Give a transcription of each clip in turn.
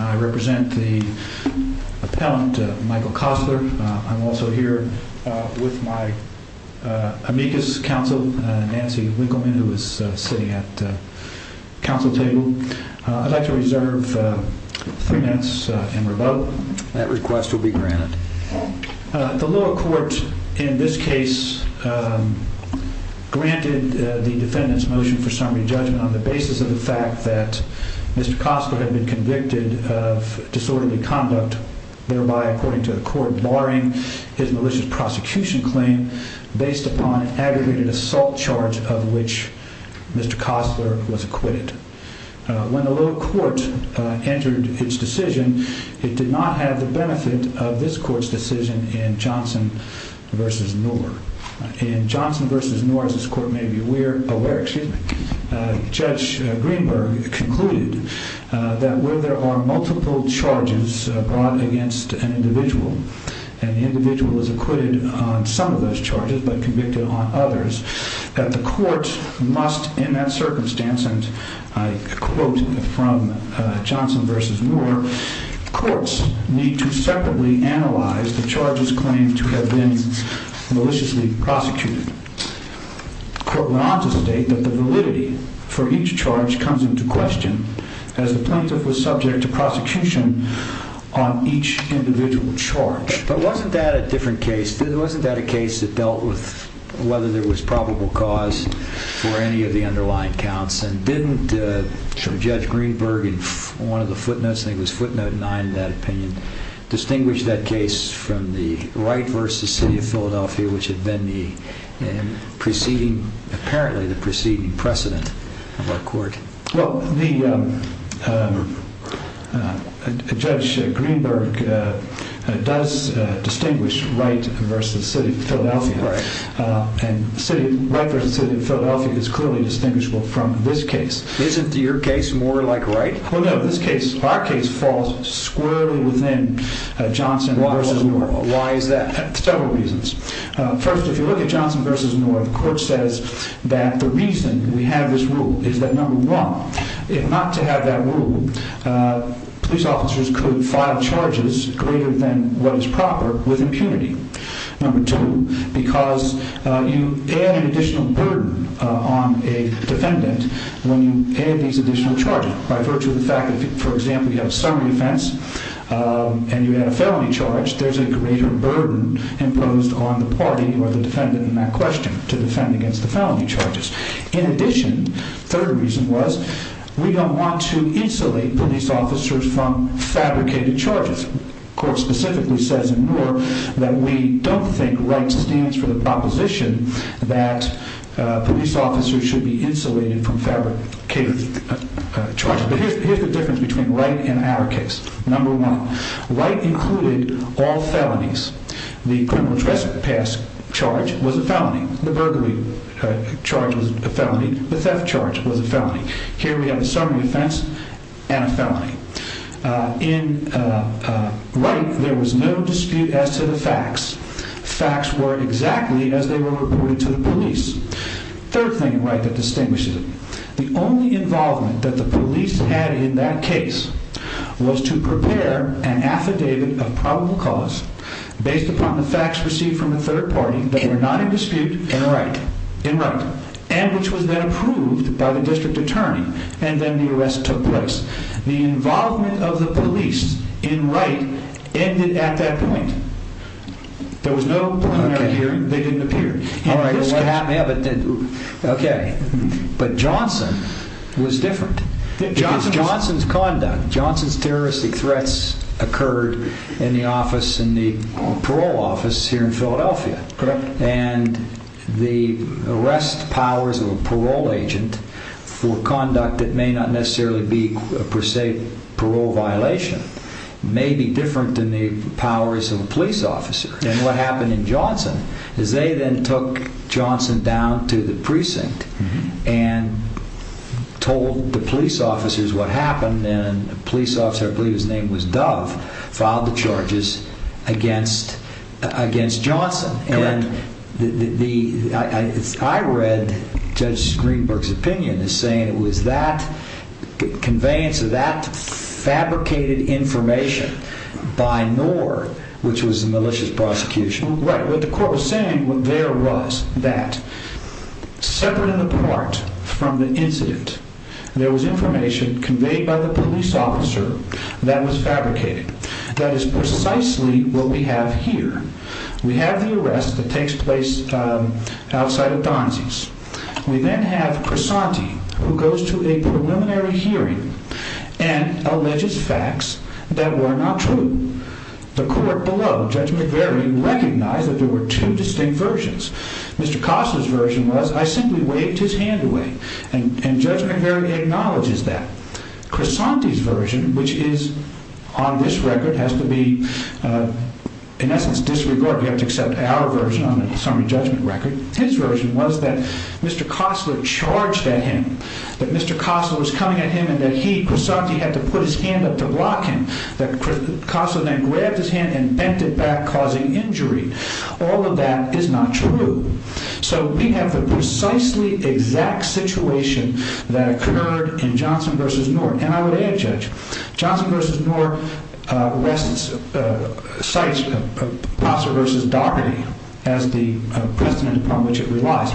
I represent the appellant Michael Kossler. I'm also here with my amicus counsel Nancy Winkleman who is sitting at the council table. I'd like to reserve three minutes and revoke. That request will be granted. The lower court in this case granted the defendant's motion for summary judgment on the basis of the fact that Mr. Kossler had been convicted of disorderly conduct thereby according to the court barring his malicious prosecution claim based upon aggregated assault charge of which Mr. Kossler was acquitted. When the lower court entered its decision it did not have the benefit of this court's decision in Johnson v. Knorr. In Johnson v. Knorr as this court may be aware, Judge Greenberg concluded that where there are multiple charges brought against an individual and the individual is acquitted on some of those charges but convicted on others, the court must in that circumstance and I quote from Johnson v. Knorr, courts need to separately analyze the charges claimed to have been maliciously prosecuted. The court went on to state that the validity for each charge comes into question as the plaintiff was subject to prosecution on each individual charge. But wasn't that a different case? Wasn't that a case that dealt with whether there was probable cause for any of the underlying counts and didn't Judge Greenberg in one of the footnotes, I think it was footnote nine in that opinion, distinguish that case from the Wright v. City of Philadelphia which had been the preceding, apparently the preceding precedent of our court? Well, Judge Greenberg does distinguish Wright v. City of Philadelphia and Wright v. City of Philadelphia is clearly distinguishable from this case. Isn't your case more like Wright? No, this case, our case falls squarely within Johnson v. Knorr. Why is that? Several reasons. First, if you look at Johnson v. Knorr, the court says that the reason we have this rule is that number one, if not to have that rule, police officers could file charges greater than what is proper with impunity. Number two, because you add an additional burden on a defendant when you add these additional charges by virtue of the fact that, for example, you have a summary offense and you had a felony charge, there's a greater burden imposed on the party or the defendant in that question to defend against the felony charges. In addition, third reason was we don't want to insulate police officers from fabricated charges. Court specifically says in Knorr that we don't think Wright stands for the proposition that police officers should be insulated from fabricated charges. But here's the difference between Wright and our case. Number one, Wright included all felonies. The criminal trespass charge was a felony. The burglary charge was a felony. The theft charge was a felony. Here we have a summary offense and a felony. In Wright, there was no dispute as to the facts. Facts were exactly as they were reported to the police. Third thing in Wright that distinguishes it. The only involvement that the police had in that case was to prepare an affidavit of probable cause based upon the facts received from the third party that were not in dispute in Wright. And which was then approved by the district attorney. And then the arrest took place. The involvement of the police in Wright ended at that point. There was no dispute. But Johnson was different. Johnson's conduct, Johnson's terroristic threats occurred in the office, in the parole office here in Philadelphia. Correct. And the arrest powers of a parole agent for conduct that may not necessarily be a per se parole violation may be different than the powers of a police officer. And what happened in Johnson is they then took Johnson down to the precinct and told the police officers what happened. And a police officer, I believe his name was Dove, filed the charges against Johnson. And I read it. Judge Greenberg's opinion is saying it was that conveyance of that fabricated information by Knorr, which was a malicious prosecution. Right. What the court was saying there was that separate and apart from the incident, there was information conveyed by the police officer that was fabricated. That is precisely what we have here. We have the arrest that we then have Crisanti who goes to a preliminary hearing and alleges facts that were not true. The court below Judge McVeary recognized that there were two distinct versions. Mr. Costa's version was I simply waved his hand away. And Judge McVeary acknowledges that. Crisanti's version, which is on this record, has to be in essence disregarded. You have to accept our summary judgment record. His version was that Mr. Costler charged at him, that Mr. Costler was coming at him and that he, Crisanti, had to put his hand up to block him. That Costler then grabbed his hand and bent it back, causing injury. All of that is not true. So we have the precisely exact situation that occurred in Johnson versus Knorr. And I would add, Judge, Johnson versus Knorr rests, cites Passer versus Dougherty as the precedent upon which it relies.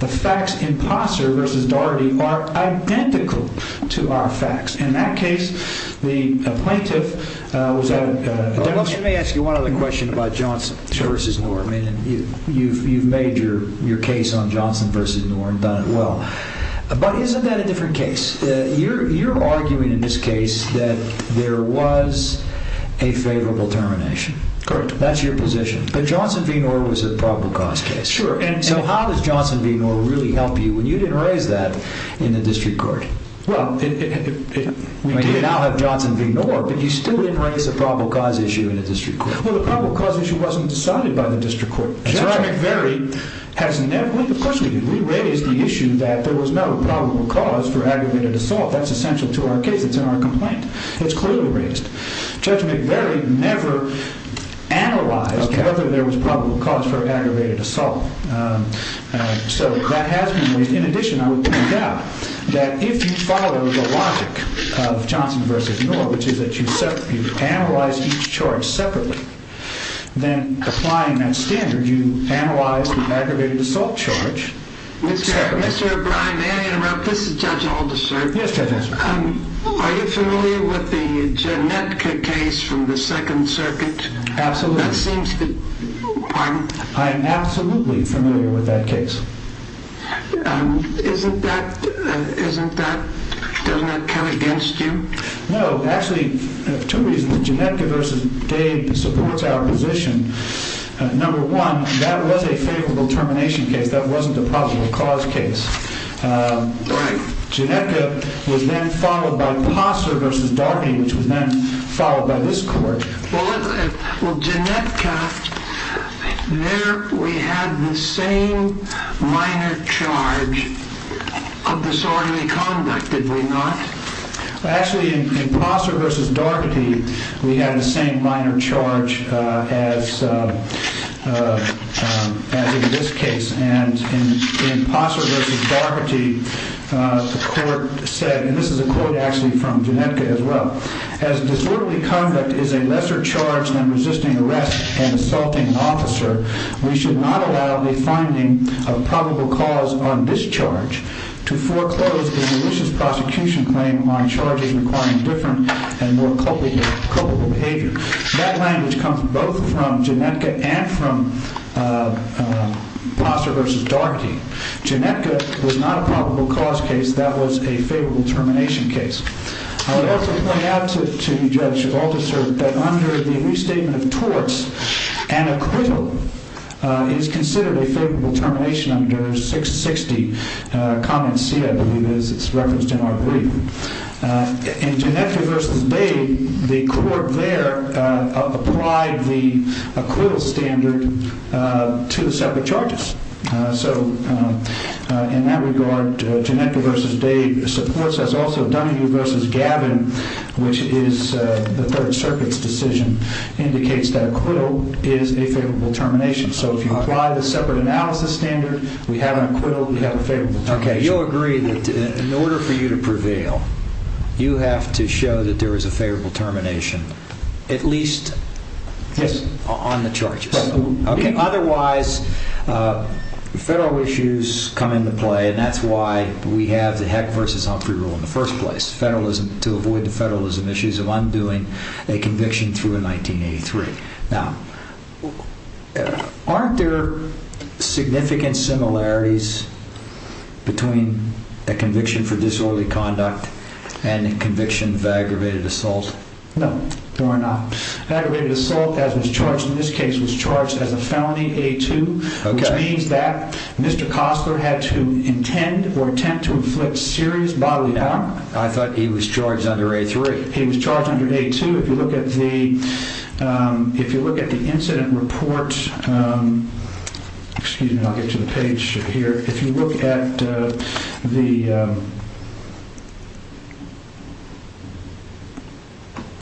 The facts in Passer versus Dougherty are identical to our facts. In that case, the plaintiff was at a... Let me ask you one other question about Johnson versus Knorr. I mean, you've made your case on Johnson versus Knorr and done it well. But isn't that a different case? You're arguing in this case that there was a favorable termination. Correct. That's your position. But Johnson v. Knorr was a probable cause case. Sure. And so how does Johnson v. Knorr really help you when you didn't raise that in the district court? Well, we did. You now have Johnson v. Knorr, but you still didn't raise a probable cause issue in the district court. Well, the probable cause issue wasn't decided by the district court. Judge McVeary has never... Of course we did. We raised the issue that there was no probable cause for aggravated assault. That's essential to our case. It's in our complaint. It's clearly raised. Judge McVeary never analyzed whether there was probable cause for aggravated assault. So that has been raised. In addition, I would point out that if you follow the logic of Johnson versus Knorr, which is that you analyze each charge separately, then applying that standard, you analyze the aggravated assault charge separately. May I interrupt? This is Judge Aldis, sir. Yes, Judge Aldis. Are you familiar with the Genetka case from the Second Circuit? Absolutely. That seems to... Pardon? I'm absolutely familiar with that case. Isn't that... Doesn't that count against you? No. Actually, two reasons. Genetka v. Dade supports our position. Number one, that was a favorable termination case. That wasn't a probable cause case. Right. Genetka was then followed by Passer v. Daugherty, which was then followed by this court. Well, Genetka, there we had the same minor charge of disorderly conduct, did we not? Actually, in Passer v. Daugherty, we had the same minor charge as in this case. And in Passer v. Daugherty, the court said, and this is a quote actually from Genetka as well, as disorderly conduct is a lesser charge than resisting arrest and assaulting an officer, we should not allow the finding of probable cause on this charge to foreclose the malicious prosecution claim on charges requiring different and more culpable behavior. That language comes both from Genetka and from Passer v. Daugherty. Genetka was not a probable cause case. That was a favorable termination case. I would also point out to Judge Althusser that under the restatement of torts, an equivalent is considered a favorable termination under 660, comment C, I believe it is. It's referenced in our brief. In Genetka v. Dade, the court there applied the acquittal standard to the separate charges. So in that regard, Genetka v. Dade supports us. Also, Dunwoody v. Gavin, which is the Third Circuit's decision, indicates that acquittal is a favorable termination. So if you apply the separate analysis standard, we have an acquittal, we have a favorable termination. Okay, you'll agree that in order for you to prevail, you have to show that there is a favorable termination, at least on the charges. Otherwise, federal issues come into play, and that's why we have the Heck v. Humphrey rule in the first place, federalism to avoid the federalism issues of undoing a conviction through in 1983. Now, aren't there significant similarities between a conviction for disorderly conduct and a conviction of aggravated assault? No, there are not. Aggravated assault, as was charged in this case, was charged as a felony A2, which means that Mr. Costler had to intend or attempt to inflict serious bodily harm. I thought he was charged under A3. He was charged under A2. If you look at the incident report, excuse me, I'll get to the page here. If you look at the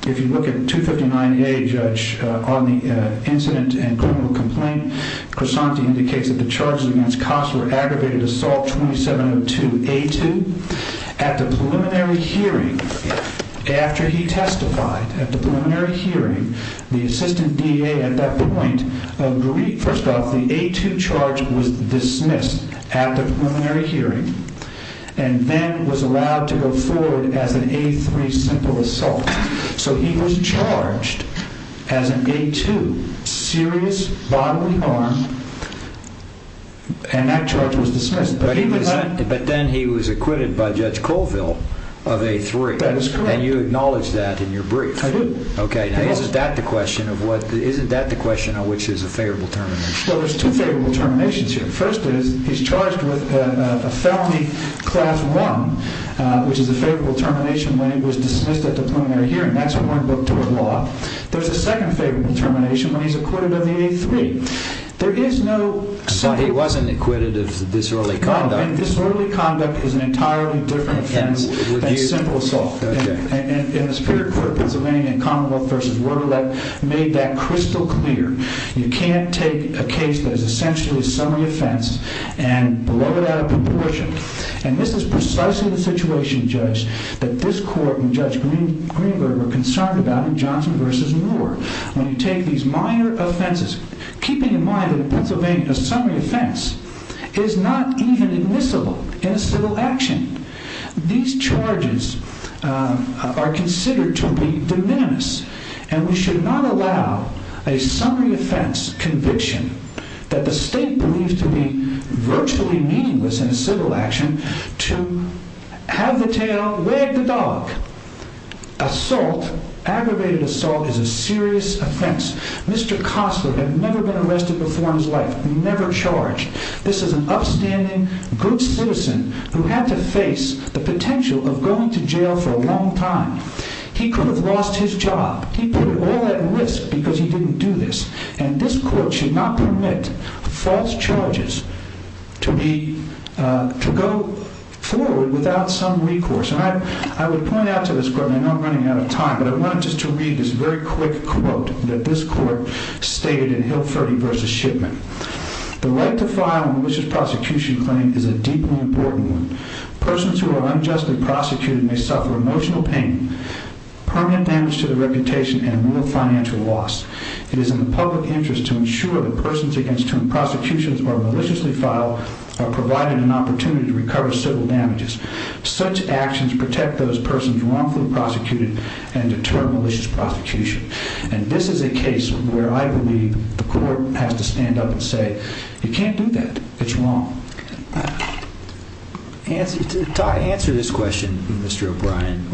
if you look at 259A, Judge, on the incident and criminal complaint, Crisanti indicates that the charges against Costler, aggravated assault 2702 A2, at the preliminary hearing, after he testified at the preliminary hearing, the assistant DA at that point agreed. First off, the A2 charge was dismissed at the preliminary hearing and then was allowed to go forward as an A3 simple assault. So he was charged as an A2, serious bodily harm, and that charge was dismissed. But then he was acquitted by Judge Colville of A3. That is correct. And you acknowledge that in your brief. I do. Okay, now is that the question of what, isn't that the question of which is a favorable termination? Well, there's two favorable terminations here. First is he's charged with a felony class one, which is a favorable termination when he was dismissed at the preliminary hearing. That's a law. There's a second favorable termination when he's acquitted of the A3. There is no... I thought he wasn't acquitted of disorderly conduct. Disorderly conduct is an entirely different offense than simple assault. And the Superior Court of Pennsylvania in Commonwealth v. Wordelette made that crystal clear. You can't take a case that is essentially a summary offense and blow it out of proportion. And this is Johnson v. Moore. When you take these minor offenses, keeping in mind that in Pennsylvania, a summary offense is not even admissible in a civil action. These charges are considered to be de minimis. And we should not allow a summary offense conviction that the state believes to be aggravated assault is a serious offense. Mr. Costler had never been arrested before in his life, never charged. This is an upstanding good citizen who had to face the potential of going to jail for a long time. He could have lost his job. He put all that risk because he didn't do this. And this court should not permit false charges to go forward without some recourse. I would point out to this court, and I know I'm running out of time, but I wanted just to read this very quick quote that this court stated in Hilferty v. Shipman. The right to file a malicious prosecution claim is a deeply important one. Persons who are unjustly prosecuted may suffer emotional pain, permanent damage to their reputation, and real financial loss. It is in the public interest to ensure that persons against whom prosecutions are maliciously Such actions protect those persons wrongfully prosecuted and deter malicious prosecution. And this is a case where I believe the court has to stand up and say, you can't do that. It's wrong. Answer this question, Mr. O'Brien.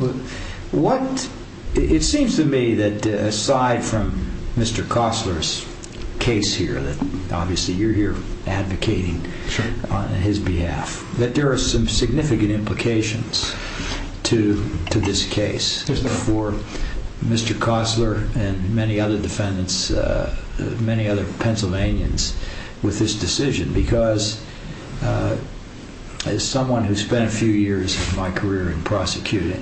It seems to me that aside from Mr. Costler's case here, obviously you're here advocating on his behalf, that there are some significant implications to this case for Mr. Costler and many other defendants, many other Pennsylvanians, with this decision. Because as someone who spent a few years of my career in prosecution,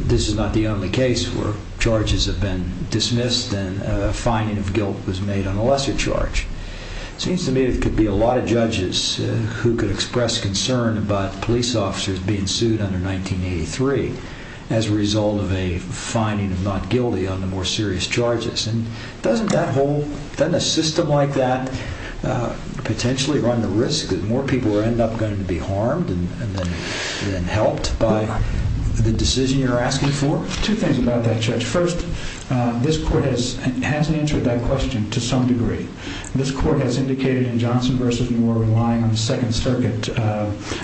this is not the only case where charges have been dismissed and a fining of guilt was made on a lesser charge. It seems to me there could be a lot of judges who could express concern about police officers being sued under 1983 as a result of a fining of not guilty on the more serious charges. And doesn't that whole, doesn't a system like that potentially run the risk that more people end up going to be harmed and then helped by the decision you're asking for? Two things about that, Judge. First, this court has answered that question to some degree. This court has indicated in Johnson v. Moore, relying on the Second Circuit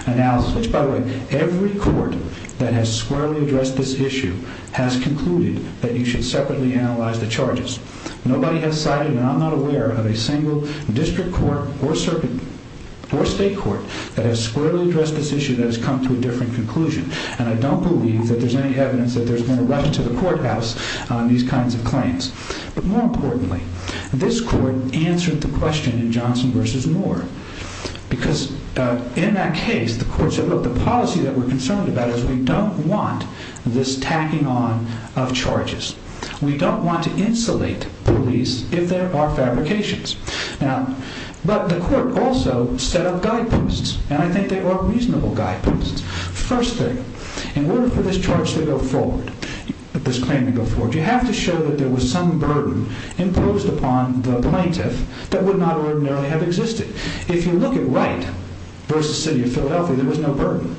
analysis, which, by the way, every court that has squarely addressed this issue has concluded that you should separately analyze the charges. Nobody has cited, and I'm not aware of, a single district court or state court that has squarely addressed this issue that has come to a different conclusion. And I don't believe that there's any evidence that there's going to rush into the courthouse on these kinds of claims. But more importantly, this court answered the question in Johnson v. Moore. Because in that case, the court said, look, the policy that we're concerned about is we don't want this tacking on of charges. We don't want to insulate police if there are fabrications. Now, but the court also set up guideposts, and I think they are reasonable guideposts. First thing, in order for this charge to go forward, this claim to go forward, you have to show that there was some burden imposed upon the plaintiff that would not ordinarily have existed. If you look at Wright v. City of Philadelphia, there was no burden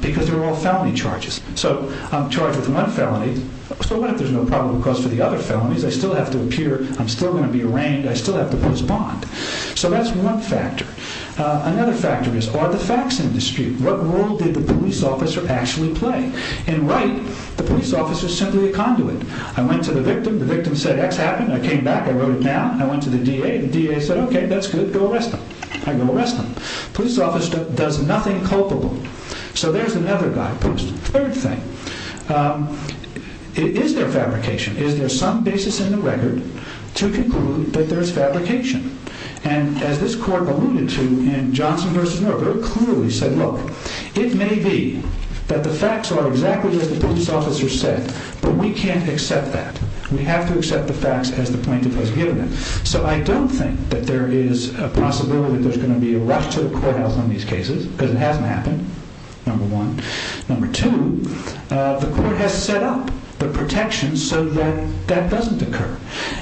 because they're all felony charges. So I'm charged with one felony, so what if there's no probable cause for the other bond? So that's one factor. Another factor is, are the facts in dispute? What role did the police officer actually play? In Wright, the police officer is simply a conduit. I went to the victim, the victim said X happened, I came back, I wrote it down. I went to the DA, the DA said, okay, that's good, go arrest them. I go arrest them. Police officer does nothing culpable. So there's another guidepost. Third thing, is there fabrication? Is there some basis in the record to conclude that there's fabrication? And as this court alluded to in Johnson v. Moore, very clearly said, look, it may be that the facts are exactly as the police officer said, but we can't accept that. We have to accept the facts as the plaintiff has given them. So I don't think that there is a possibility that there's going to be a rush to the courthouse on these cases because it hasn't happened, number one. Number two, the court has set up the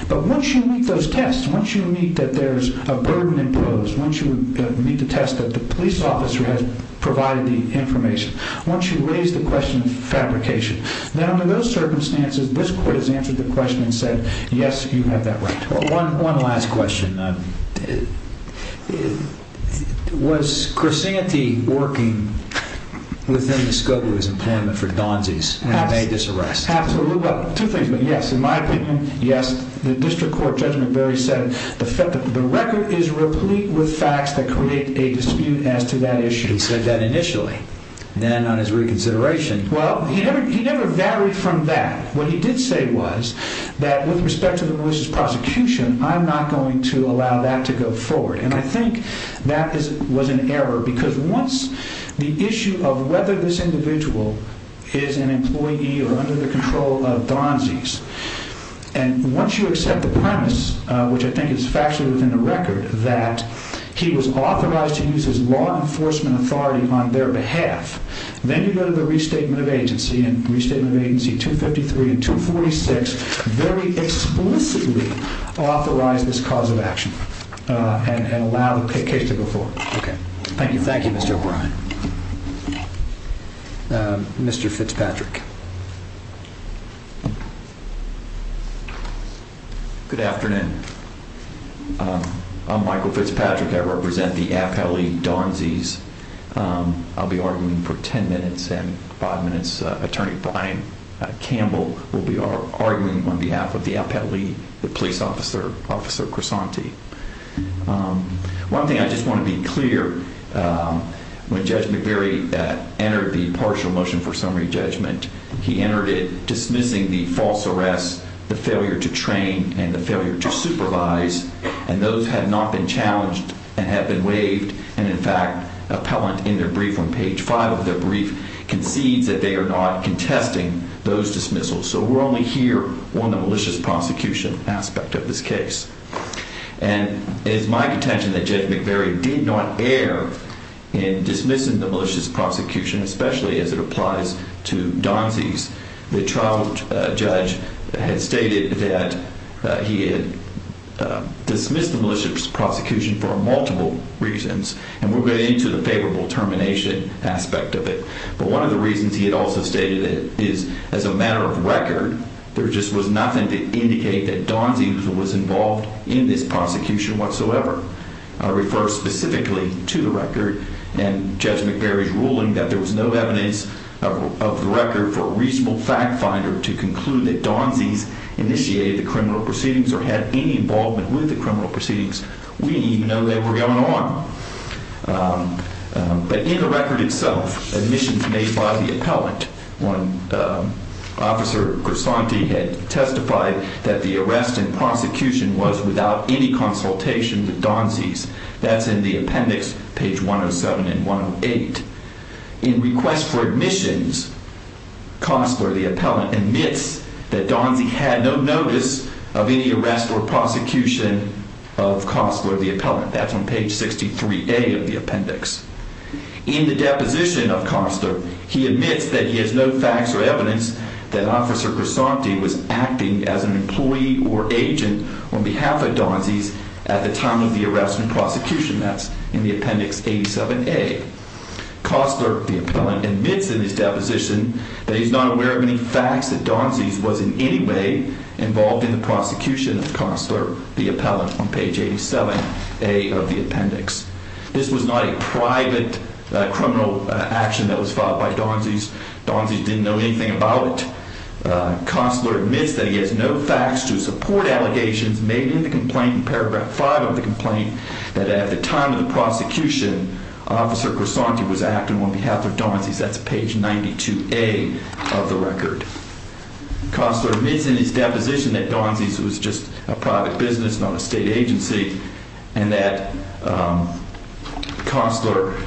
But once you meet those tests, once you meet that there's a burden imposed, once you meet the test that the police officer has provided the information, once you raise the question of fabrication, then under those circumstances, this court has answered the question and said, yes, you have that right. Well, one last question. Was Corsanti working within the scope of his employment for Donsi's when he made this arrest? Two things, but yes, in my opinion, yes. The district court, Judge McBury said the record is replete with facts that create a dispute as to that issue. He said that initially, then on his reconsideration. Well, he never varied from that. What he did say was that with respect to the police's prosecution, I'm not going to allow that to go forward. And I think that was an error because once the issue of whether this individual is an employee or under the control of Donsi's, and once you accept the premise, which I think is factually within the record, that he was authorized to use his law enforcement authority on their behalf, then you go to the restatement of agency and restatement of agency 253 and 246 very explicitly authorize this cause of action and allow the case to go forward. Okay, thank you. Thank you, Mr. O'Brien. Mr. Fitzpatrick. Good afternoon. I'm Michael Fitzpatrick. I represent the AFL-E Donsi's. I'll be arguing for 10 minutes and five minutes. Attorney Brian Campbell will be arguing on behalf of the AFL-E, the police officer, Officer Crisanti. One thing I just want to be clear, when Judge McVeary entered the partial motion for summary judgment, he entered it dismissing the false arrests, the failure to train and the failure to supervise. And those had not been challenged and have been waived. And in fact, appellant in their brief on page five of their brief concedes that they are not contesting those dismissals. So we're only here on the termination aspect of this case. And it is my contention that Judge McVeary did not err in dismissing the malicious prosecution, especially as it applies to Donsi's. The trial judge had stated that he had dismissed the malicious prosecution for multiple reasons, and we'll get into the favorable termination aspect of it. But one of the reasons he had stated it is as a matter of record, there just was nothing to indicate that Donsi was involved in this prosecution whatsoever. I refer specifically to the record and Judge McVeary's ruling that there was no evidence of the record for a reasonable fact finder to conclude that Donsi's initiated the criminal proceedings or had any involvement with the criminal proceedings. We didn't even know they were going on. But in the record itself, admissions made by the Donsi's, the Donsi's had no notice of any arrest or prosecution of Costler, the appellant. That's no facts or evidence that Officer Grisanti was acting as an employee or agent on behalf of Donsi's at the time of the arrest and prosecution. That's in the appendix 87A. Costler, the appellant, admits in his deposition that he's not aware of any facts that Donsi's was in any way involved in the prosecution of Costler, the appellant, on page 87A of the appendix. This was not a private criminal action that was filed by Donsi's. Donsi's didn't know anything about it. Costler admits that he has no facts to support allegations made in the complaint in paragraph five of the complaint that at the time of the prosecution, Officer Grisanti was acting on behalf of Donsi's. That's page 92A of the record. Costler admits in his deposition that Donsi's was just a private business, not a state agency, and that Costler,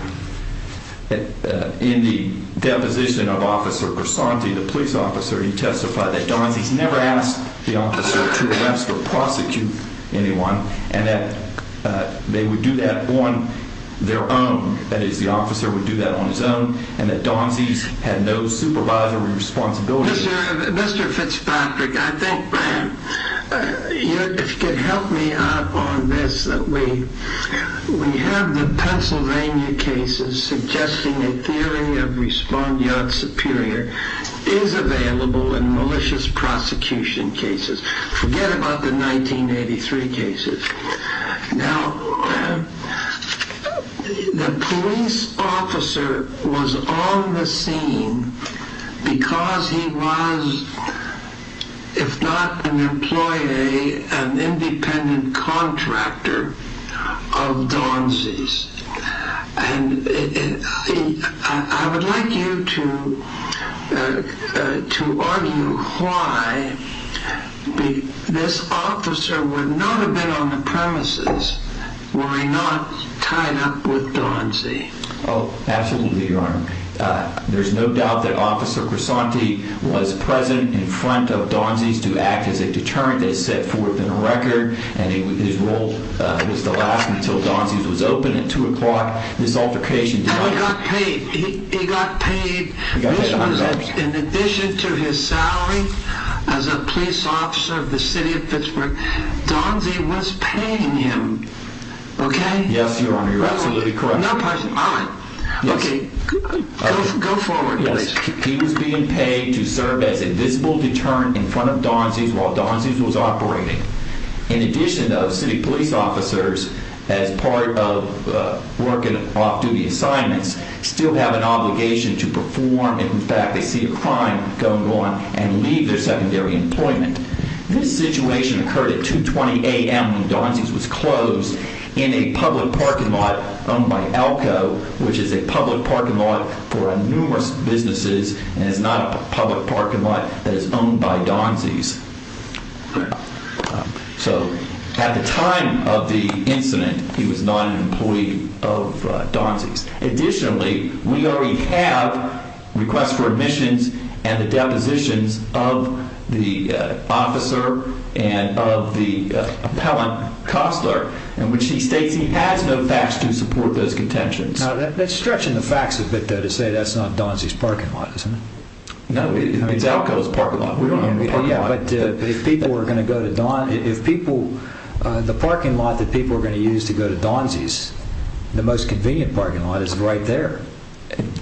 in the deposition of Officer Grisanti, the police officer, he testified that Donsi's never asked the officer to arrest or prosecute anyone and that they would do that on their own. That is, the officer would do that on Donsi's own and that Donsi's had no supervisory responsibility. Mr. Fitzpatrick, I think, if you could help me out on this, that we have the Pennsylvania cases suggesting a theory of respondeat superior is available in malicious prosecution cases. Forget about the 1983 cases. Now, the police officer was on the scene because he was, if not an employee, an independent contractor of Donsi's. I would like you to argue why this officer would not have been on the premises were he not tied up with Donsi. Oh, absolutely, Your Honor. There's no doubt that Officer Grisanti was present in front of Donsi's to act as a deterrent that is set forth in the record and his role was to last until Donsi's was open at 2 o'clock. This altercation... And he got paid. He got paid. This was in addition to his salary as a police officer of the city of Pittsburgh. Donsi was paying him, okay? Yes, Your Honor. You're absolutely correct. No, pardon me. All right. Okay. Go forward, please. He was being paid to serve as a visible deterrent in front of Donsi's while Donsi's was operating. In addition, though, city police officers, as part of working off-duty assignments, still have an obligation to perform and, in fact, they see a crime going on and leave their secondary employment. This situation occurred at 2.20 a.m. when Donsi's was closed in a public parking lot owned by Elko, which is a public parking lot for numerous businesses and is not a public parking lot that is owned by Donsi's. So at the time of the incident, he was not an officer. Unfortunately, we already have requests for admissions and the depositions of the officer and of the appellant, Costler, in which he states he has no facts to support those contentions. Now, that's stretching the facts a bit, though, to say that's not Donsi's parking lot, isn't it? No, it's Elko's parking lot. We don't have a parking lot. Yeah, but if people are going to go to Don... If people... The parking lot that people are going to use to go to Donsi's, the most convenient parking lot is right there.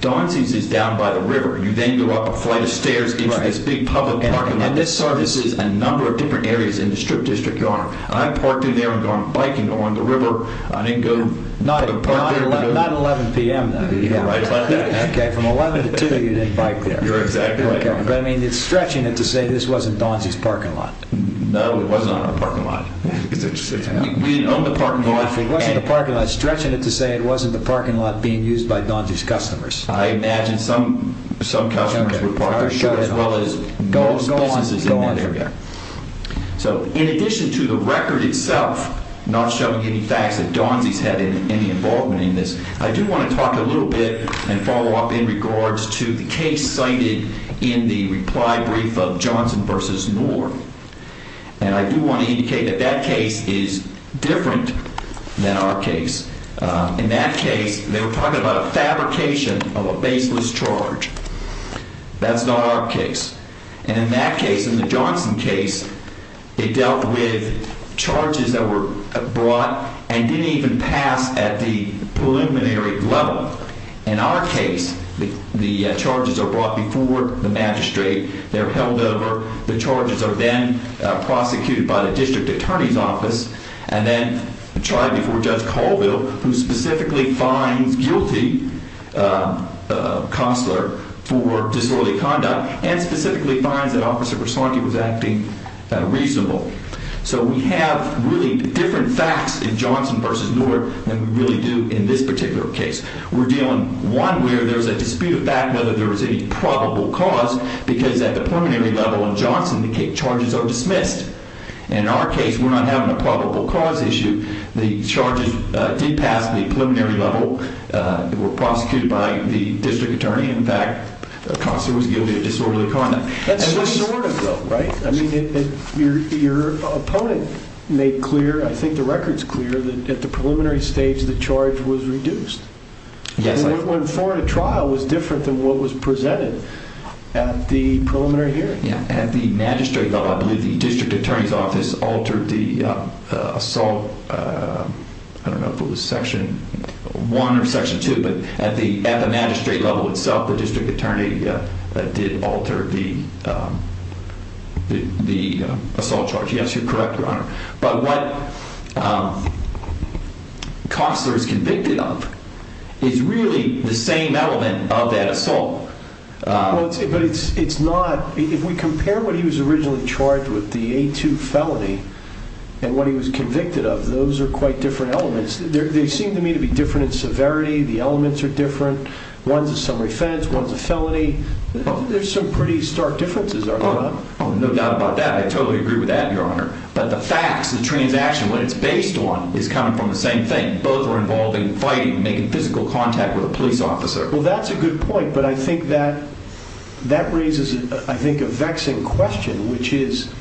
Donsi's is down by the river. You then go up a flight of stairs into this big public parking lot. And this services a number of different areas in the Strip District, Your Honor. I parked in there and gone biking along the river. I didn't go... Not at 11 p.m., though. Right about that. Okay, from 11 to 2, you didn't bike there. You're exactly right. But, I mean, it's stretching it to say this wasn't Donsi's parking lot. No, it wasn't on our parking lot. We own the parking lot. If it wasn't the parking lot, it's stretching it to say it wasn't the parking lot being used by Donsi's customers. I imagine some customers were parked there, as well as most businesses in that area. So, in addition to the record itself not showing any facts that Donsi's had any involvement in this, I do want to talk a little bit and follow up in regards to the case cited in the reply brief of Johnson v. Moore. And I do want to indicate that that case is different than our case. In that case, they were talking about a fabrication of a baseless charge. That's not our case. And in that case, in the Johnson case, it dealt with charges that were brought and didn't even pass at the preliminary level. In our case, the charges are brought before the magistrate. They're held over. The charges are then prosecuted by the district attorney's office and then tried before Judge Colville, who specifically finds guilty Costler for disorderly conduct and specifically finds that Officer Versanti was acting reasonable. So, we have really different facts in Johnson v. Moore than we really do in this particular case. We're dealing, one, where there's a dispute of fact whether there was any probable cause because at the preliminary level in Johnson, the charges are dismissed. And in our case, we're not having a probable cause issue. The charges did pass at the preliminary level. They were prosecuted by the district attorney. In fact, Costler was guilty of disorderly conduct. That's sort of though, right? I mean, your opponent made clear, I think the record's clear, that at the preliminary stage, the charge was reduced. Yes. And what went forward at trial was different than what was presented at the preliminary hearing. Yeah. At the magistrate level, I believe the district attorney's office altered the assault, I don't know if it was Section 1 or Section 2, but at the magistrate level itself, the district attorney did alter the assault charge. Yes, you're correct, Your Honor. But what Costler is convicted of is really the same element of that assault. Well, but it's not, if we compare what he was originally charged with, the A2 felony, and what he was convicted of, those are quite different elements. They seem to me to be different in severity. The elements are different. One's a summary offense, one's a felony. There's some pretty stark differences, are there not? Oh, no doubt about that. I totally agree with that, Your Honor. But the facts, the transaction, what it's based on is coming from the same thing. Both are involving fighting, making physical contact with a police officer. Well, that's a good point, but I think that raises, I think, a vexing question, which is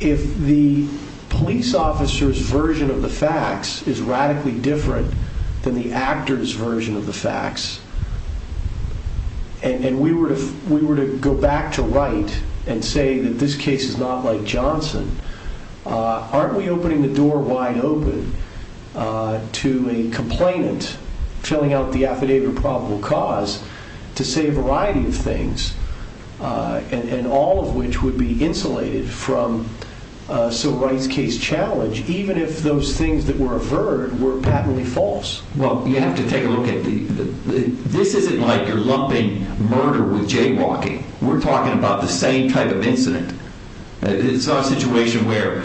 if the police officer's version of the facts is radically different than the actor's version of the facts, and we were to go back to Wright and say that this case is not like Johnson, aren't we opening the door wide open to a complainant filling out the affidavit of probable cause to say a variety of things, and all of which would be insulated from Sir Wright's case challenge, even if those things that were averred were patently false? Well, you have to take a look at the, this isn't like your lumping murder with jaywalking. It's not a situation where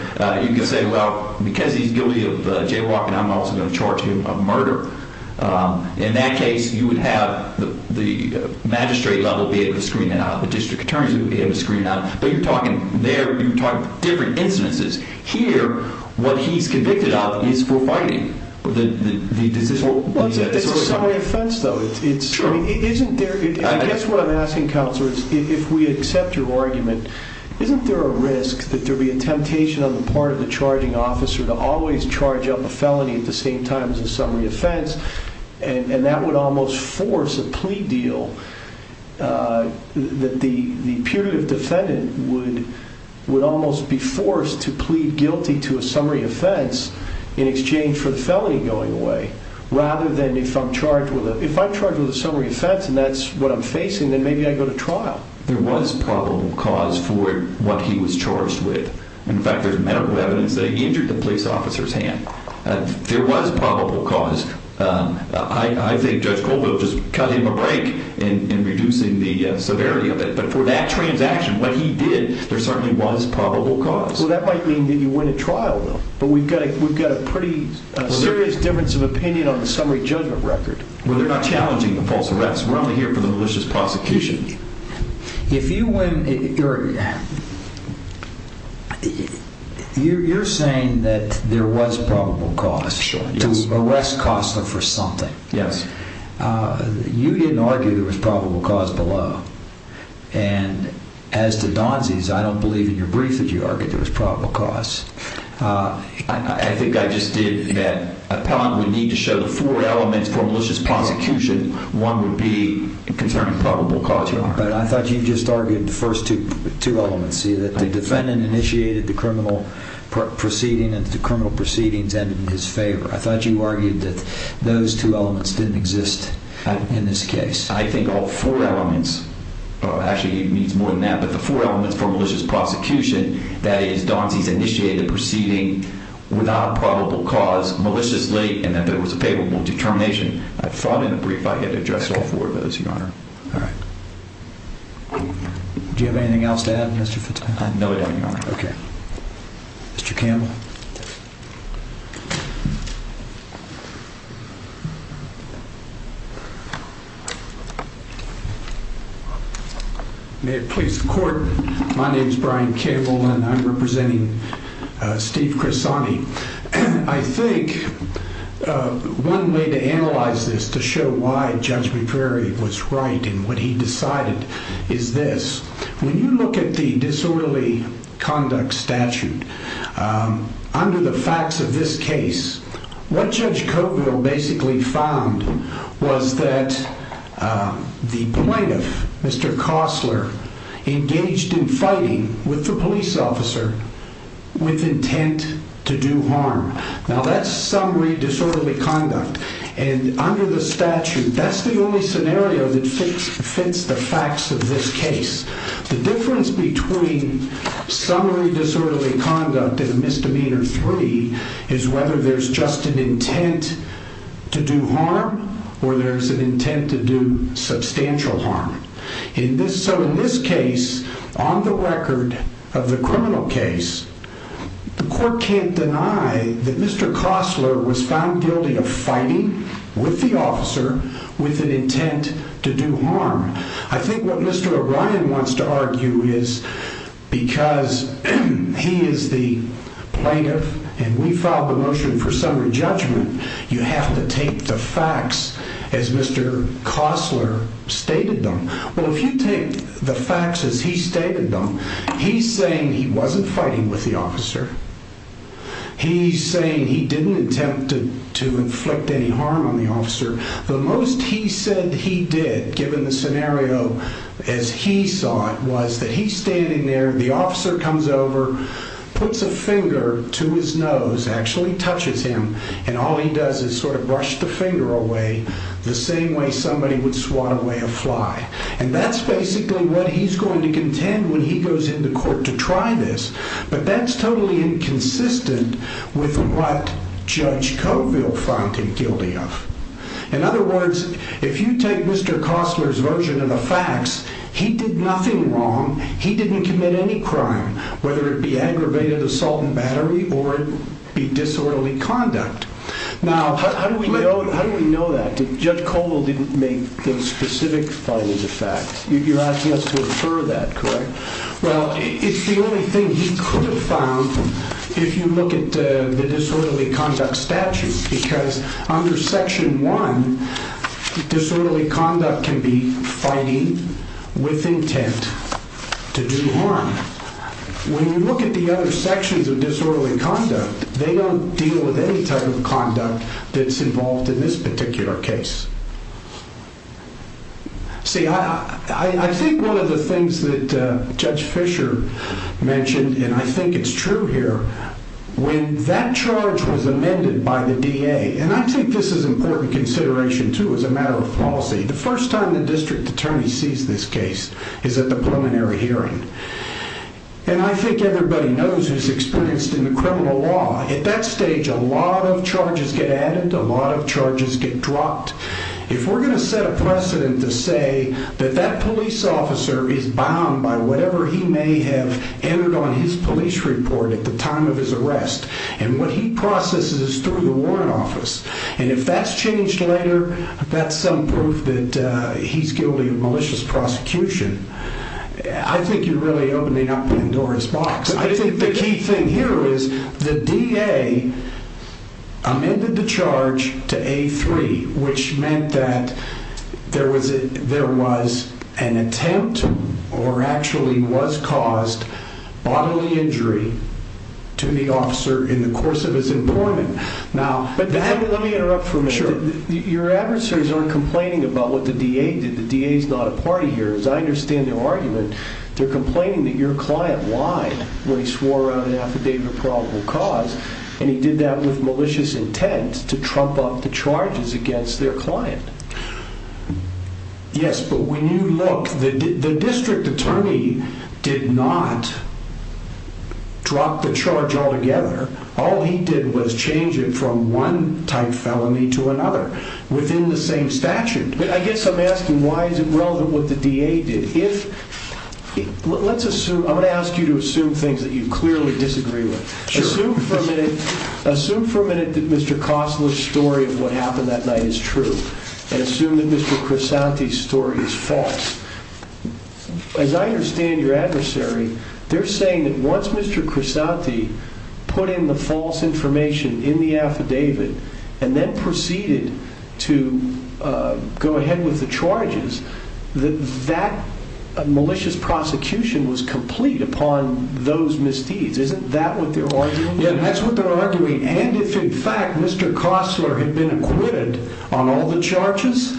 you can say, well, because he's guilty of jaywalking, I'm also going to charge him of murder. In that case, you would have the magistrate level be able to screen it out. The district attorneys would be able to screen it out. But you're talking there, you're talking different instances. Here, what he's convicted of is for fighting the decision. Well, it's a summary offense, though. It's, I mean, isn't there, and I guess what I'm asking, Counselor, is if we accept your there a risk that there'll be a temptation on the part of the charging officer to always charge up a felony at the same time as a summary offense, and that would almost force a plea deal that the putative defendant would almost be forced to plead guilty to a summary offense in exchange for the felony going away, rather than if I'm charged with a summary offense, and that's what I'm facing, then maybe I go to trial. There was probable cause for what he was charged with. In fact, there's medical evidence that he injured the police officer's hand. There was probable cause. I think Judge Colville just cut him a break in reducing the severity of it. But for that transaction, what he did, there certainly was probable cause. Well, that might mean that you win a trial, though. But we've got a pretty serious difference of opinion on the summary judgment record. Well, they're not challenging the false arrest. We're only here for the malicious prosecution. If you win, you're saying that there was probable cause to arrest Costler for something. Yes. You didn't argue there was probable cause below. And as to Donzie's, I don't believe in your brief that you argued there was probable cause. I think I just did that. A point we need to show the four elements for malicious prosecution, one would be concerning probable cause. But I thought you just argued the first two elements, see, that the defendant initiated the criminal proceeding and the criminal proceedings ended in his favor. I thought you argued that those two elements didn't exist in this case. I think all four elements. Actually, it means more than that. But the four elements for malicious prosecution, that is, Donzie's initiated the proceeding without probable cause maliciously and that there was a payable determination. I thought in the brief I had addressed all four of those, Your Honor. All right. Do you have anything else to add, Mr. Fitzpatrick? I have nothing, Your Honor. Okay. Mr. Campbell. May it please the court. My name is Brian Campbell and I'm representing Steve Crisani. I think one way to analyze this to show why Judge McCrary was right and what he decided is this. When you look at the disorderly conduct statute, under the facts of this case, what Judge Coteville basically found was that the plaintiff, Mr. Costler, engaged in fighting with the police officer with intent to do harm. Now that's summary disorderly conduct. And under the statute, that's the only scenario that fits the facts of this case. The difference between summary disorderly conduct and misdemeanor three is whether there's just an intent to do harm or there's an intent to do substantial harm. So in this case, on the record of the criminal case, the court can't deny that Mr. Costler was found guilty of fighting with the officer with an intent to do harm. I think what Mr. O'Brien wants to argue is because he is the plaintiff and we filed the motion for summary judgment, you have to take the facts as Mr. Costler stated them. Well, if you take the facts as he stated them, he's saying he wasn't fighting with the officer. He's saying he didn't attempt to inflict any harm on the officer. The most he said he did, given the scenario as he saw it, was that he's standing there, the officer comes over, puts a finger to his nose, actually touches him, and all he does is sort of brush the finger away the same way somebody would swat away a fly. And that's basically what he's going to contend when he goes into court to try this. But that's totally inconsistent with what Judge Coteville found him guilty of. In other words, if you take Mr. Costler's version of the facts, he did nothing wrong. He didn't commit any crime, whether it be aggravated assault and battery or it be disorderly conduct. Now, how do we know that? Judge Coteville didn't make the specific findings of facts. You're asking us to infer that, correct? Well, it's the only thing he could have found if you look at the disorderly conduct statutes, because under Section 1, disorderly conduct can be fighting with intent to do harm. When you look at the other sections of disorderly conduct, they don't deal with any type of conduct that's involved in this particular case. See, I think one of the things that Judge Fisher mentioned, and I think it's true here, when that charge was amended by the DA, and I think this is important consideration, too, as a matter of policy. The first time the district attorney sees this case is at the preliminary hearing. I think everybody knows who's experienced in the criminal law. At that stage, a lot of charges get added, a lot of charges get dropped. If we're going to set a precedent to say that that police officer is bound by whatever he may have entered on his police report at the time of his arrest, and what he processes is through the warrant office, and if that's changed later, that's some proof that he's guilty of malicious prosecution. I think you're really opening up Pandora's box. I think the key thing here is the DA amended the charge to A3, which meant that there was an attempt, or actually was caused, bodily injury to the officer in the course of his employment. Let me interrupt for a minute. Your adversaries aren't complaining about what the DA did. The DA's not a party here. As I understand their argument, they're complaining that your client lied when he swore out an affidavit of probable cause, and he did that with malicious intent to trump up the charges against their client. Yes, but when you look, the district attorney did not drop the charge altogether. All he did was change it from one type felony to another within the same statute. I guess I'm asking, why is it relevant what the DA did? I'm going to ask you to assume things that you clearly disagree with. Assume for a minute that Mr. Costler's story of what happened that night is true, and assume that Mr. Crisanti's story is false. As I understand your adversary, they're saying that once Mr. Crisanti put in the false charges, that malicious prosecution was complete upon those misdeeds. Isn't that what they're arguing? Yes, that's what they're arguing. And if in fact Mr. Costler had been acquitted on all the charges,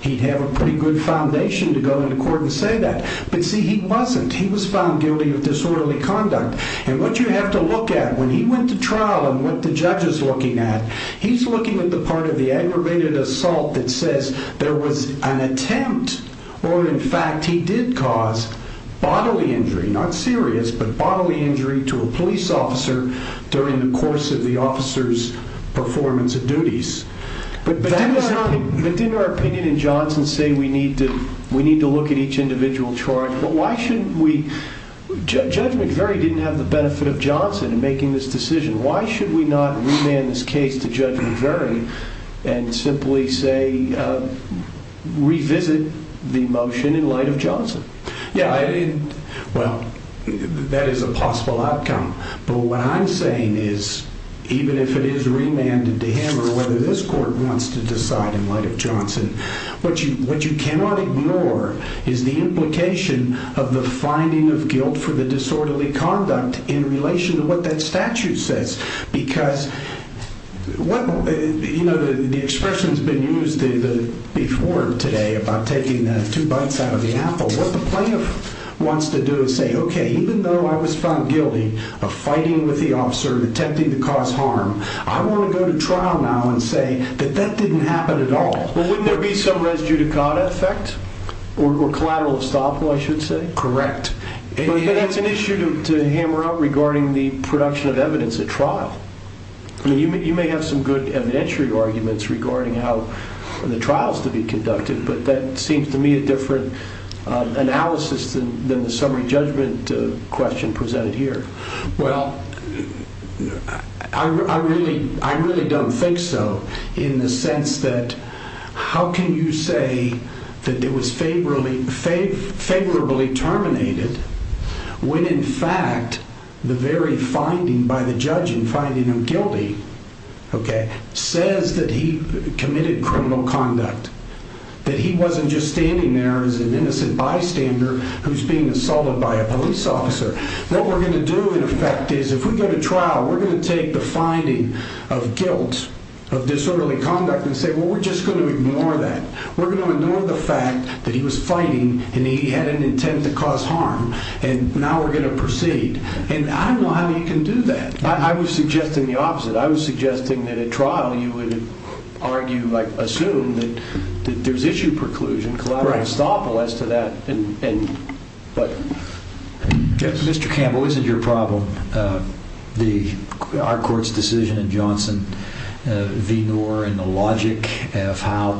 he'd have a pretty good foundation to go into court and say that. But see, he wasn't. He was found guilty of disorderly conduct. And what you have to look at when he went to trial and what the judge is looking at, he's looking at the part of the aggravated assault that says there was an attempt, or in fact he did cause bodily injury, not serious, but bodily injury to a police officer during the course of the officer's performance of duties. But didn't our opinion in Johnson say we need to look at each individual charge? But why shouldn't we? Judge McVeary didn't have the benefit of Johnson in making this decision. Why should we not remand this case to Judge McVeary and simply say, revisit the motion in light of Johnson? Yeah, well, that is a possible outcome. But what I'm saying is, even if it is remanded to him or whether this court wants to decide in light of Johnson, what you cannot ignore is the implication of the finding of guilt for the disorderly conduct in relation to what that statute says. Because the expression's been used before today about taking the two butts out of the apple. What the plaintiff wants to do is say, okay, even though I was found guilty of fighting with the officer, attempting to cause harm, I want to go to trial now and say that that didn't happen at all. Well, wouldn't there be some res judicata effect or collateral estoppel, I should say? Correct. But that's an issue to hammer out regarding the production of evidence at trial. You may have some good evidentiary arguments regarding how the trial's to be conducted, but that seems to me a different analysis than the summary judgment question presented here. Well, I really don't think so in the sense that how can you say that it was favorably terminated when, in fact, the very finding by the judge in finding him guilty says that he committed criminal conduct, that he wasn't just standing there as an innocent bystander who's being assaulted by a police officer. What we're going to do, in effect, is if we go to trial, we're going to take the finding of guilt of disorderly conduct and say, well, we're just going to ignore that. We're going to ignore the fact that he was fighting and he had an intent to cause harm, and now we're going to proceed. And I don't know how you can do that. I was suggesting the opposite. I was suggesting that at trial, you would argue, assume that there's issue preclusion, collateral estoppel as to that. Mr. Campbell, isn't your problem our court's decision in Johnson v. Brown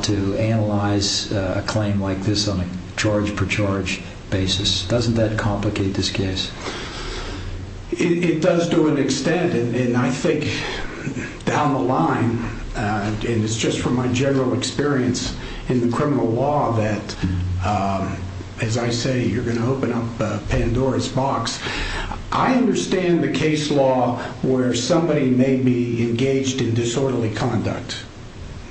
to analyze a claim like this on a charge-per-charge basis? Doesn't that complicate this case? It does to an extent, and I think down the line, and it's just from my general experience in the criminal law that, as I say, you're going to open up Pandora's box. I understand the case law where somebody may be engaged in disorderly conduct,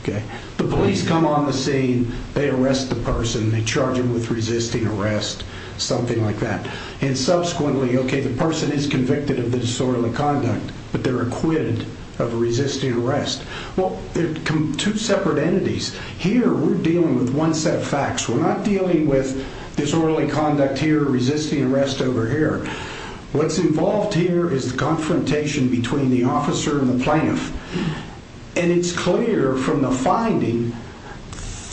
okay? The police come on the scene. They arrest the person. They charge him with resisting arrest, something like that, and subsequently, okay, the person is convicted of the disorderly conduct, but they're acquitted of resisting arrest. Well, they're two separate entities. Here, we're dealing with one set of facts. We're not dealing with disorderly conduct here, resisting arrest over here. What's involved here is the confrontation between the officer and the plaintiff, and it's clear from the finding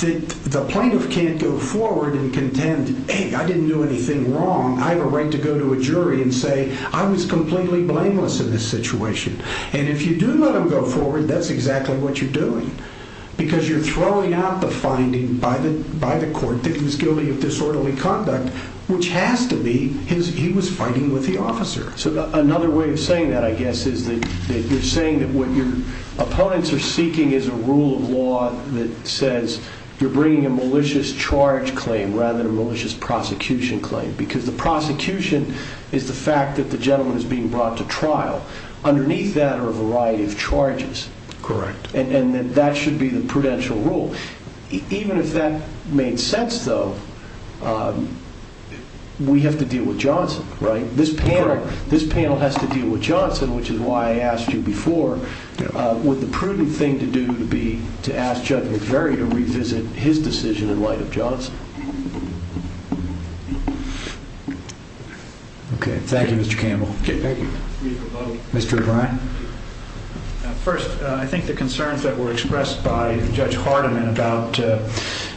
that the plaintiff can't go forward and contend, hey, I didn't do anything wrong. I have a right to go to a jury and say, I was completely blameless in this situation, and if you do let him go forward, that's exactly what you're doing because you're throwing out the finding by the court that he's guilty of disorderly conduct, which has to be he was fighting with the officer, so another way of saying that, I guess, is that you're saying that what your opponents are seeking is a rule of law that says you're bringing a malicious charge claim rather than a malicious prosecution claim because the prosecution is the fact that the gentleman is being brought to trial. Underneath that are a variety of charges, and that should be the prudential rule. Even if that made sense, though, we have to deal with Johnson, right? This panel has to deal with Johnson, which is why I asked you before. Would the prudent thing to do be to ask Judge McVeary to revisit his decision in light of Johnson? Okay, thank you, Mr. Campbell. Okay, thank you. Mr. O'Brien? First, I think the concerns that were expressed by Judge Hardiman about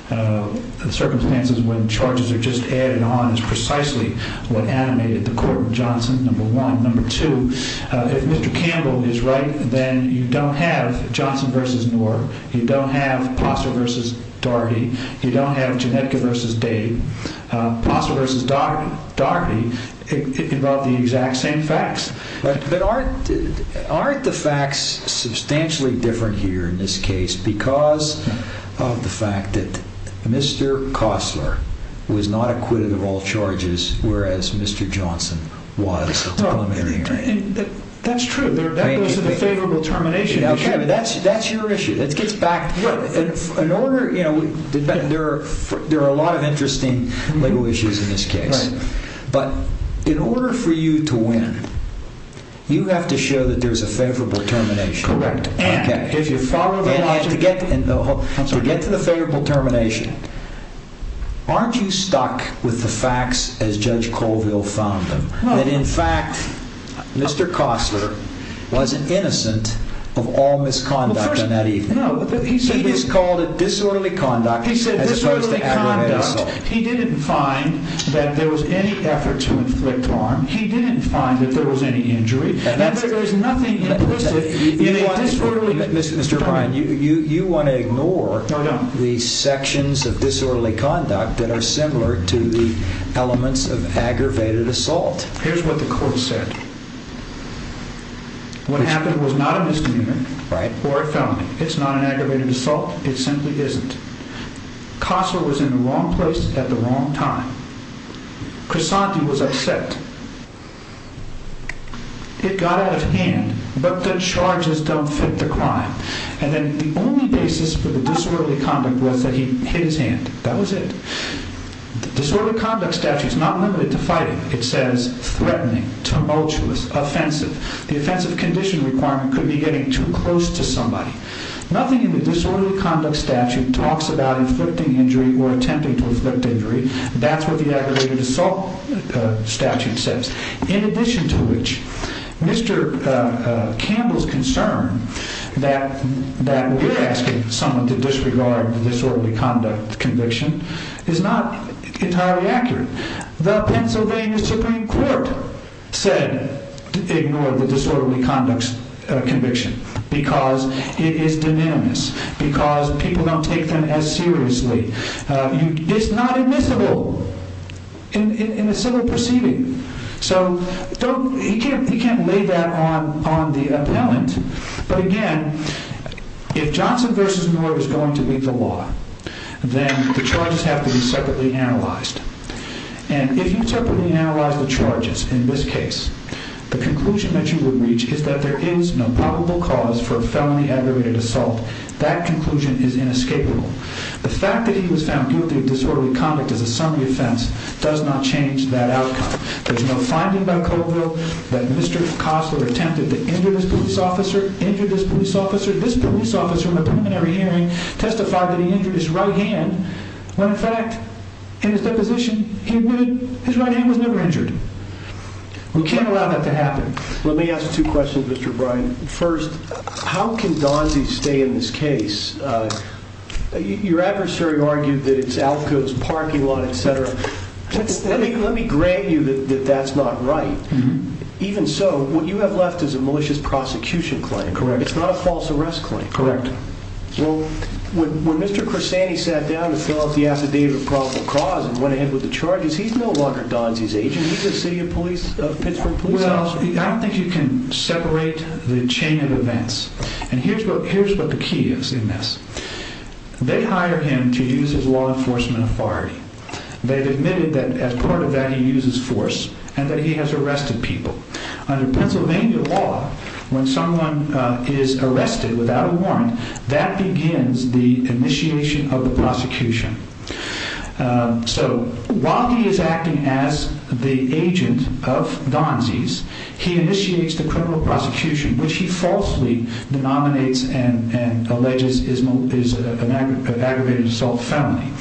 the circumstances when charges are just added on is precisely what animated the court with Johnson, number one. Number two, if Mr. Campbell is right, then you don't have Johnson versus Knorr. You don't have Postler versus Daugherty. You don't have Genetka versus Day. Postler versus Daugherty involve the exact same facts. But aren't the facts substantially different here in this case because of the fact that Mr. Postler was not acquitted of all charges, whereas Mr. Johnson was. That's true. That goes to the favorable termination issue. That's your issue. There are a lot of interesting legal issues in this case. But in order for you to win, you have to show that there's a favorable termination. Correct. And if you follow the logic... And to get to the favorable termination, aren't you stuck with the facts as Judge Colville found them? That in fact, Mr. Costler wasn't innocent of all misconduct on that evening. No, but he said... He just called it disorderly conduct as opposed to aggravated assault. He said disorderly conduct. He didn't find that there was any effort to inflict harm. He didn't find that there was any injury. But there's nothing implicit in a disorderly conduct. Mr. O'Brien, you want to ignore the sections of disorderly conduct that are similar to the elements of aggravated assault. Here's what the court said. What happened was not a misdemeanor or a felony. It's not an aggravated assault. It simply isn't. Costler was in the wrong place at the wrong time. Crisanti was upset. It got out of hand, but the charges don't fit the crime. And then the only basis for the disorderly conduct was that he hit his hand. That was it. The disorderly conduct statute is not limited to fighting. It says threatening, tumultuous, offensive. The offensive condition requirement could be getting too close to somebody. Nothing in the disorderly conduct statute talks about inflicting injury or attempting to inflict injury. That's what the aggravated assault statute says. In addition to which, Mr. Campbell's concern that we're asking someone to disregard the disorderly conduct conviction is not entirely accurate. The Pennsylvania Supreme Court said ignore the disorderly conduct conviction because it is de minimis. Because people don't take them as seriously. It's not admissible in a civil proceeding. So he can't lay that on the appellant. But again, if Johnson versus Moore is going to be the law, then the charges have to be separately analyzed. And if you separately analyze the charges in this case, the conclusion that you would reach is that there is no probable cause for a felony aggravated assault. That conclusion is inescapable. The fact that he was found guilty of disorderly conduct as a summary offense does not change that outcome. There's no finding by code bill that Mr. Costler attempted to injure this police officer, injure this police officer. This police officer in a preliminary hearing testified that he injured his right hand when in fact in his deposition he admitted his right hand was never injured. We can't allow that to happen. Let me ask two questions, Mr. Bryan. First, how can Donzie stay in this case? Your adversary argued that it's Alcoa's parking lot, et cetera. Let me grant you that that's not right. Even so, what you have left is a malicious prosecution claim. Correct. It's not a false arrest claim. Correct. Well, when Mr. Cressani sat down to fill out the affidavit of probable cause and went ahead with the charges, he no longer Donzie's agent. He's a city of Pittsburgh police officer. I don't think you can separate the chain of events. And here's what the key is in this. They hire him to use his law enforcement authority. They've admitted that as part of that, he uses force and that he has arrested people under Pennsylvania law. When someone is arrested without a warrant, that begins the initiation of the prosecution. So while he is acting as the agent of Donzie's, he initiates the criminal prosecution, which he falsely denominates and alleges is an aggravated assault felony.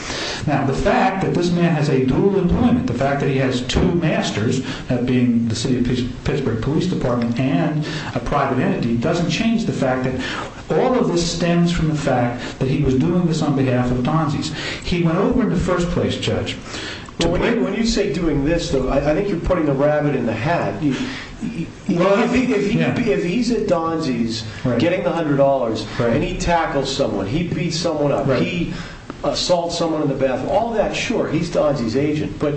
Now, the fact that this man has a dual employment, the fact that he has two masters of being the city of Pittsburgh police department and a private entity, doesn't change the fact that all of this stems from the fact that he was doing this on behalf of Donzie's. He went over in the first place, Judge. When you say doing this, though, I think you're putting the rabbit in the hat. Well, if he's at Donzie's getting the $100 and he tackles someone, he beats someone up, he assaults someone in the bathroom, all that, sure, he's Donzie's agent. But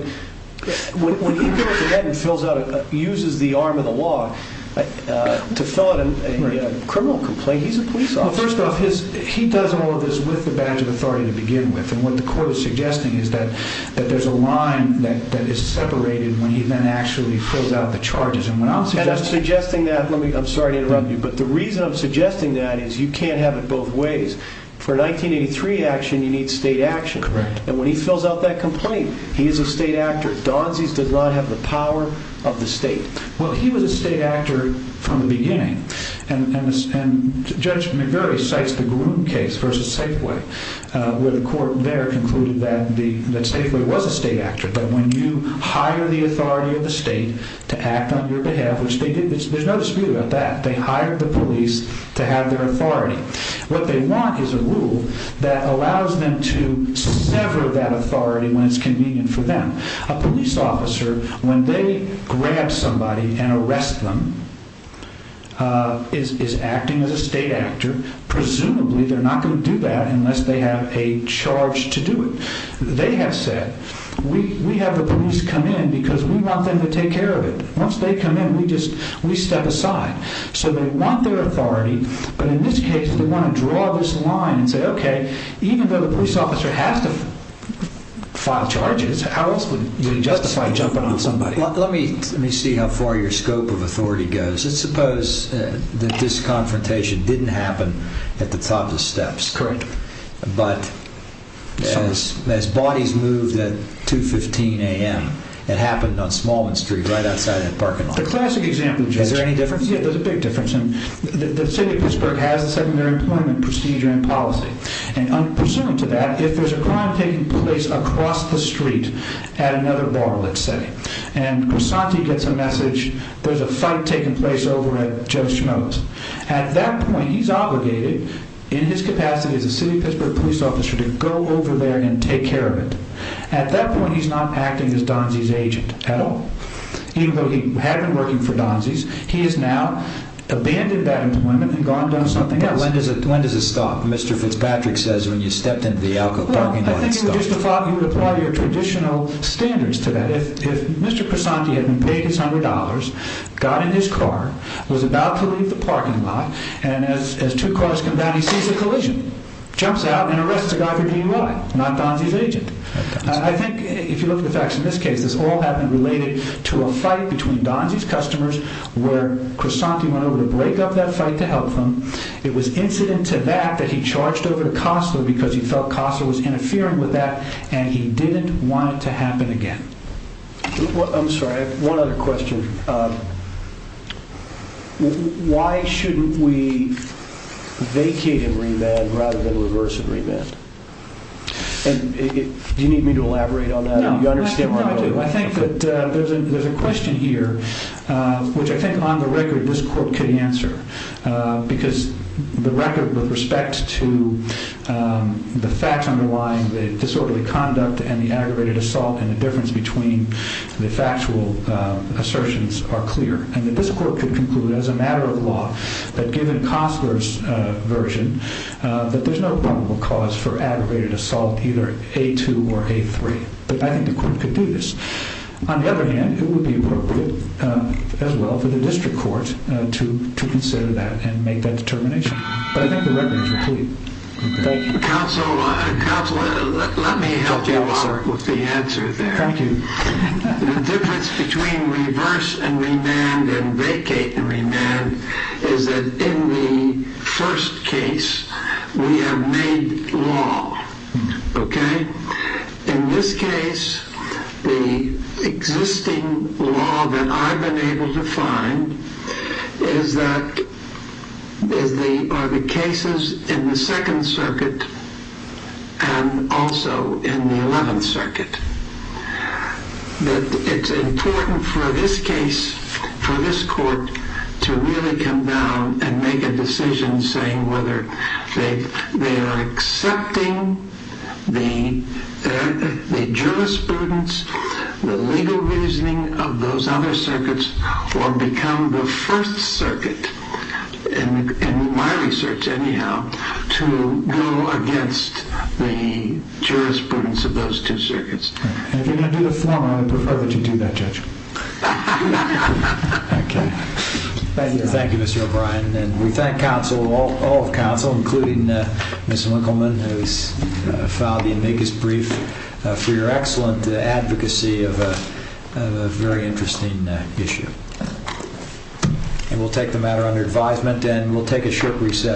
when he goes ahead and uses the arm of the law to fill out a criminal complaint, he's a police officer. First off, he does all of this with the badge of authority to begin with. And what the court is suggesting is that there's a line that is separated when he then actually fills out the charges. And when I'm suggesting that... I'm sorry to interrupt you, but the reason I'm suggesting that is you can't have it both ways. For 1983 action, you need state action. Correct. And when he fills out that complaint, he is a state actor. Donzie's does not have the power of the state. Well, he was a state actor from the beginning. And Judge McGurry cites the Groom case versus Safeway, where the court there concluded that Safeway was a state actor. But when you hire the authority of the state to act on your behalf, which they did, there's no dispute about that. They hired the police to have their authority. What they want is a rule that allows them to sever that authority when it's convenient for them. A police officer, when they grab somebody and arrest them, is acting as a state actor. Presumably, they're not going to do that unless they have a charge to do it. They have said, we have the police come in because we want them to take care of it. Once they come in, we step aside. So they want their authority. But in this case, they want to draw this line and say, okay, even though the police officer has to file charges, how else would you justify jumping on somebody? Let me see how far your scope of authority goes. Let's suppose that this confrontation didn't happen at the top of the steps. Correct. But as bodies moved at 2.15 a.m., it happened on Smallman Street, right outside that parking lot. The classic example, Judge. Is there any difference? Yeah, there's a big difference. And the city of Pittsburgh has a secondary employment procedure and policy. And pursuant to that, if there's a crime taking place across the street at another bar, let's say, and Grisanti gets a message, there's a fight taking place over at Joe Schmoe's. At that point, he's obligated, in his capacity as a city of Pittsburgh police officer, to go over there and take care of it. At that point, he's not acting as Donzie's agent at all. Even though he had been working for Donzie's, he has now abandoned that employment and gone and done something else. But when does it stop? Mr. Fitzpatrick says, when you stepped into the Alco parking lot, it stopped. Well, I think it would justify, you would apply your traditional standards to that. If Mr. Grisanti had been paid his $100, got in his car, was about to leave the parking lot, and as two cars come down, he sees a collision, jumps out, and arrests the guy for DUI, not Donzie's agent. I think, if you look at the facts in this case, this all had been related to a fight between Donzie's customers, where Grisanti went over to break up that fight to help them. It was incident to that, that he charged over to Costler because he felt Costler was interfering with that, and he didn't want it to happen again. I'm sorry, I have one other question. Why shouldn't we vacate and remand rather than reverse and remand? And do you need me to elaborate on that? No, I think that there's a question here, which I think, on the record, this court could answer, because the record with respect to the facts underlying the disorderly conduct and the aggravated assault and the difference between the factual assertions are clear. And that this court could conclude, as a matter of law, that given Costler's version, that there's no probable cause for aggravated assault, either A2 or A3. But I think the court could do this. On the other hand, it would be appropriate, as well, for the district court to consider that and make that determination. But I think the record is complete. Thank you. Counsel, let me help you out with the answer there. Thank you. The difference between reverse and remand and vacate and remand is that in the first case, we have made law, okay? In this case, the existing law that I've been able to find is that, are the cases in the and also in the 11th Circuit, that it's important for this case, for this court, to really come down and make a decision saying whether they are accepting the jurisprudence, the legal reasoning of those other circuits, or become the first circuit, in my research, anyhow, to go against the jurisprudence of those two circuits. And if you're going to do the form, I would prefer that you do that, Judge. Thank you, Mr. O'Brien. And we thank counsel, all of counsel, including Ms. Winkelman, who's filed the amicus brief for your excellent advocacy of a very interesting issue. And we'll take the matter under advisement, and we'll take a short recess.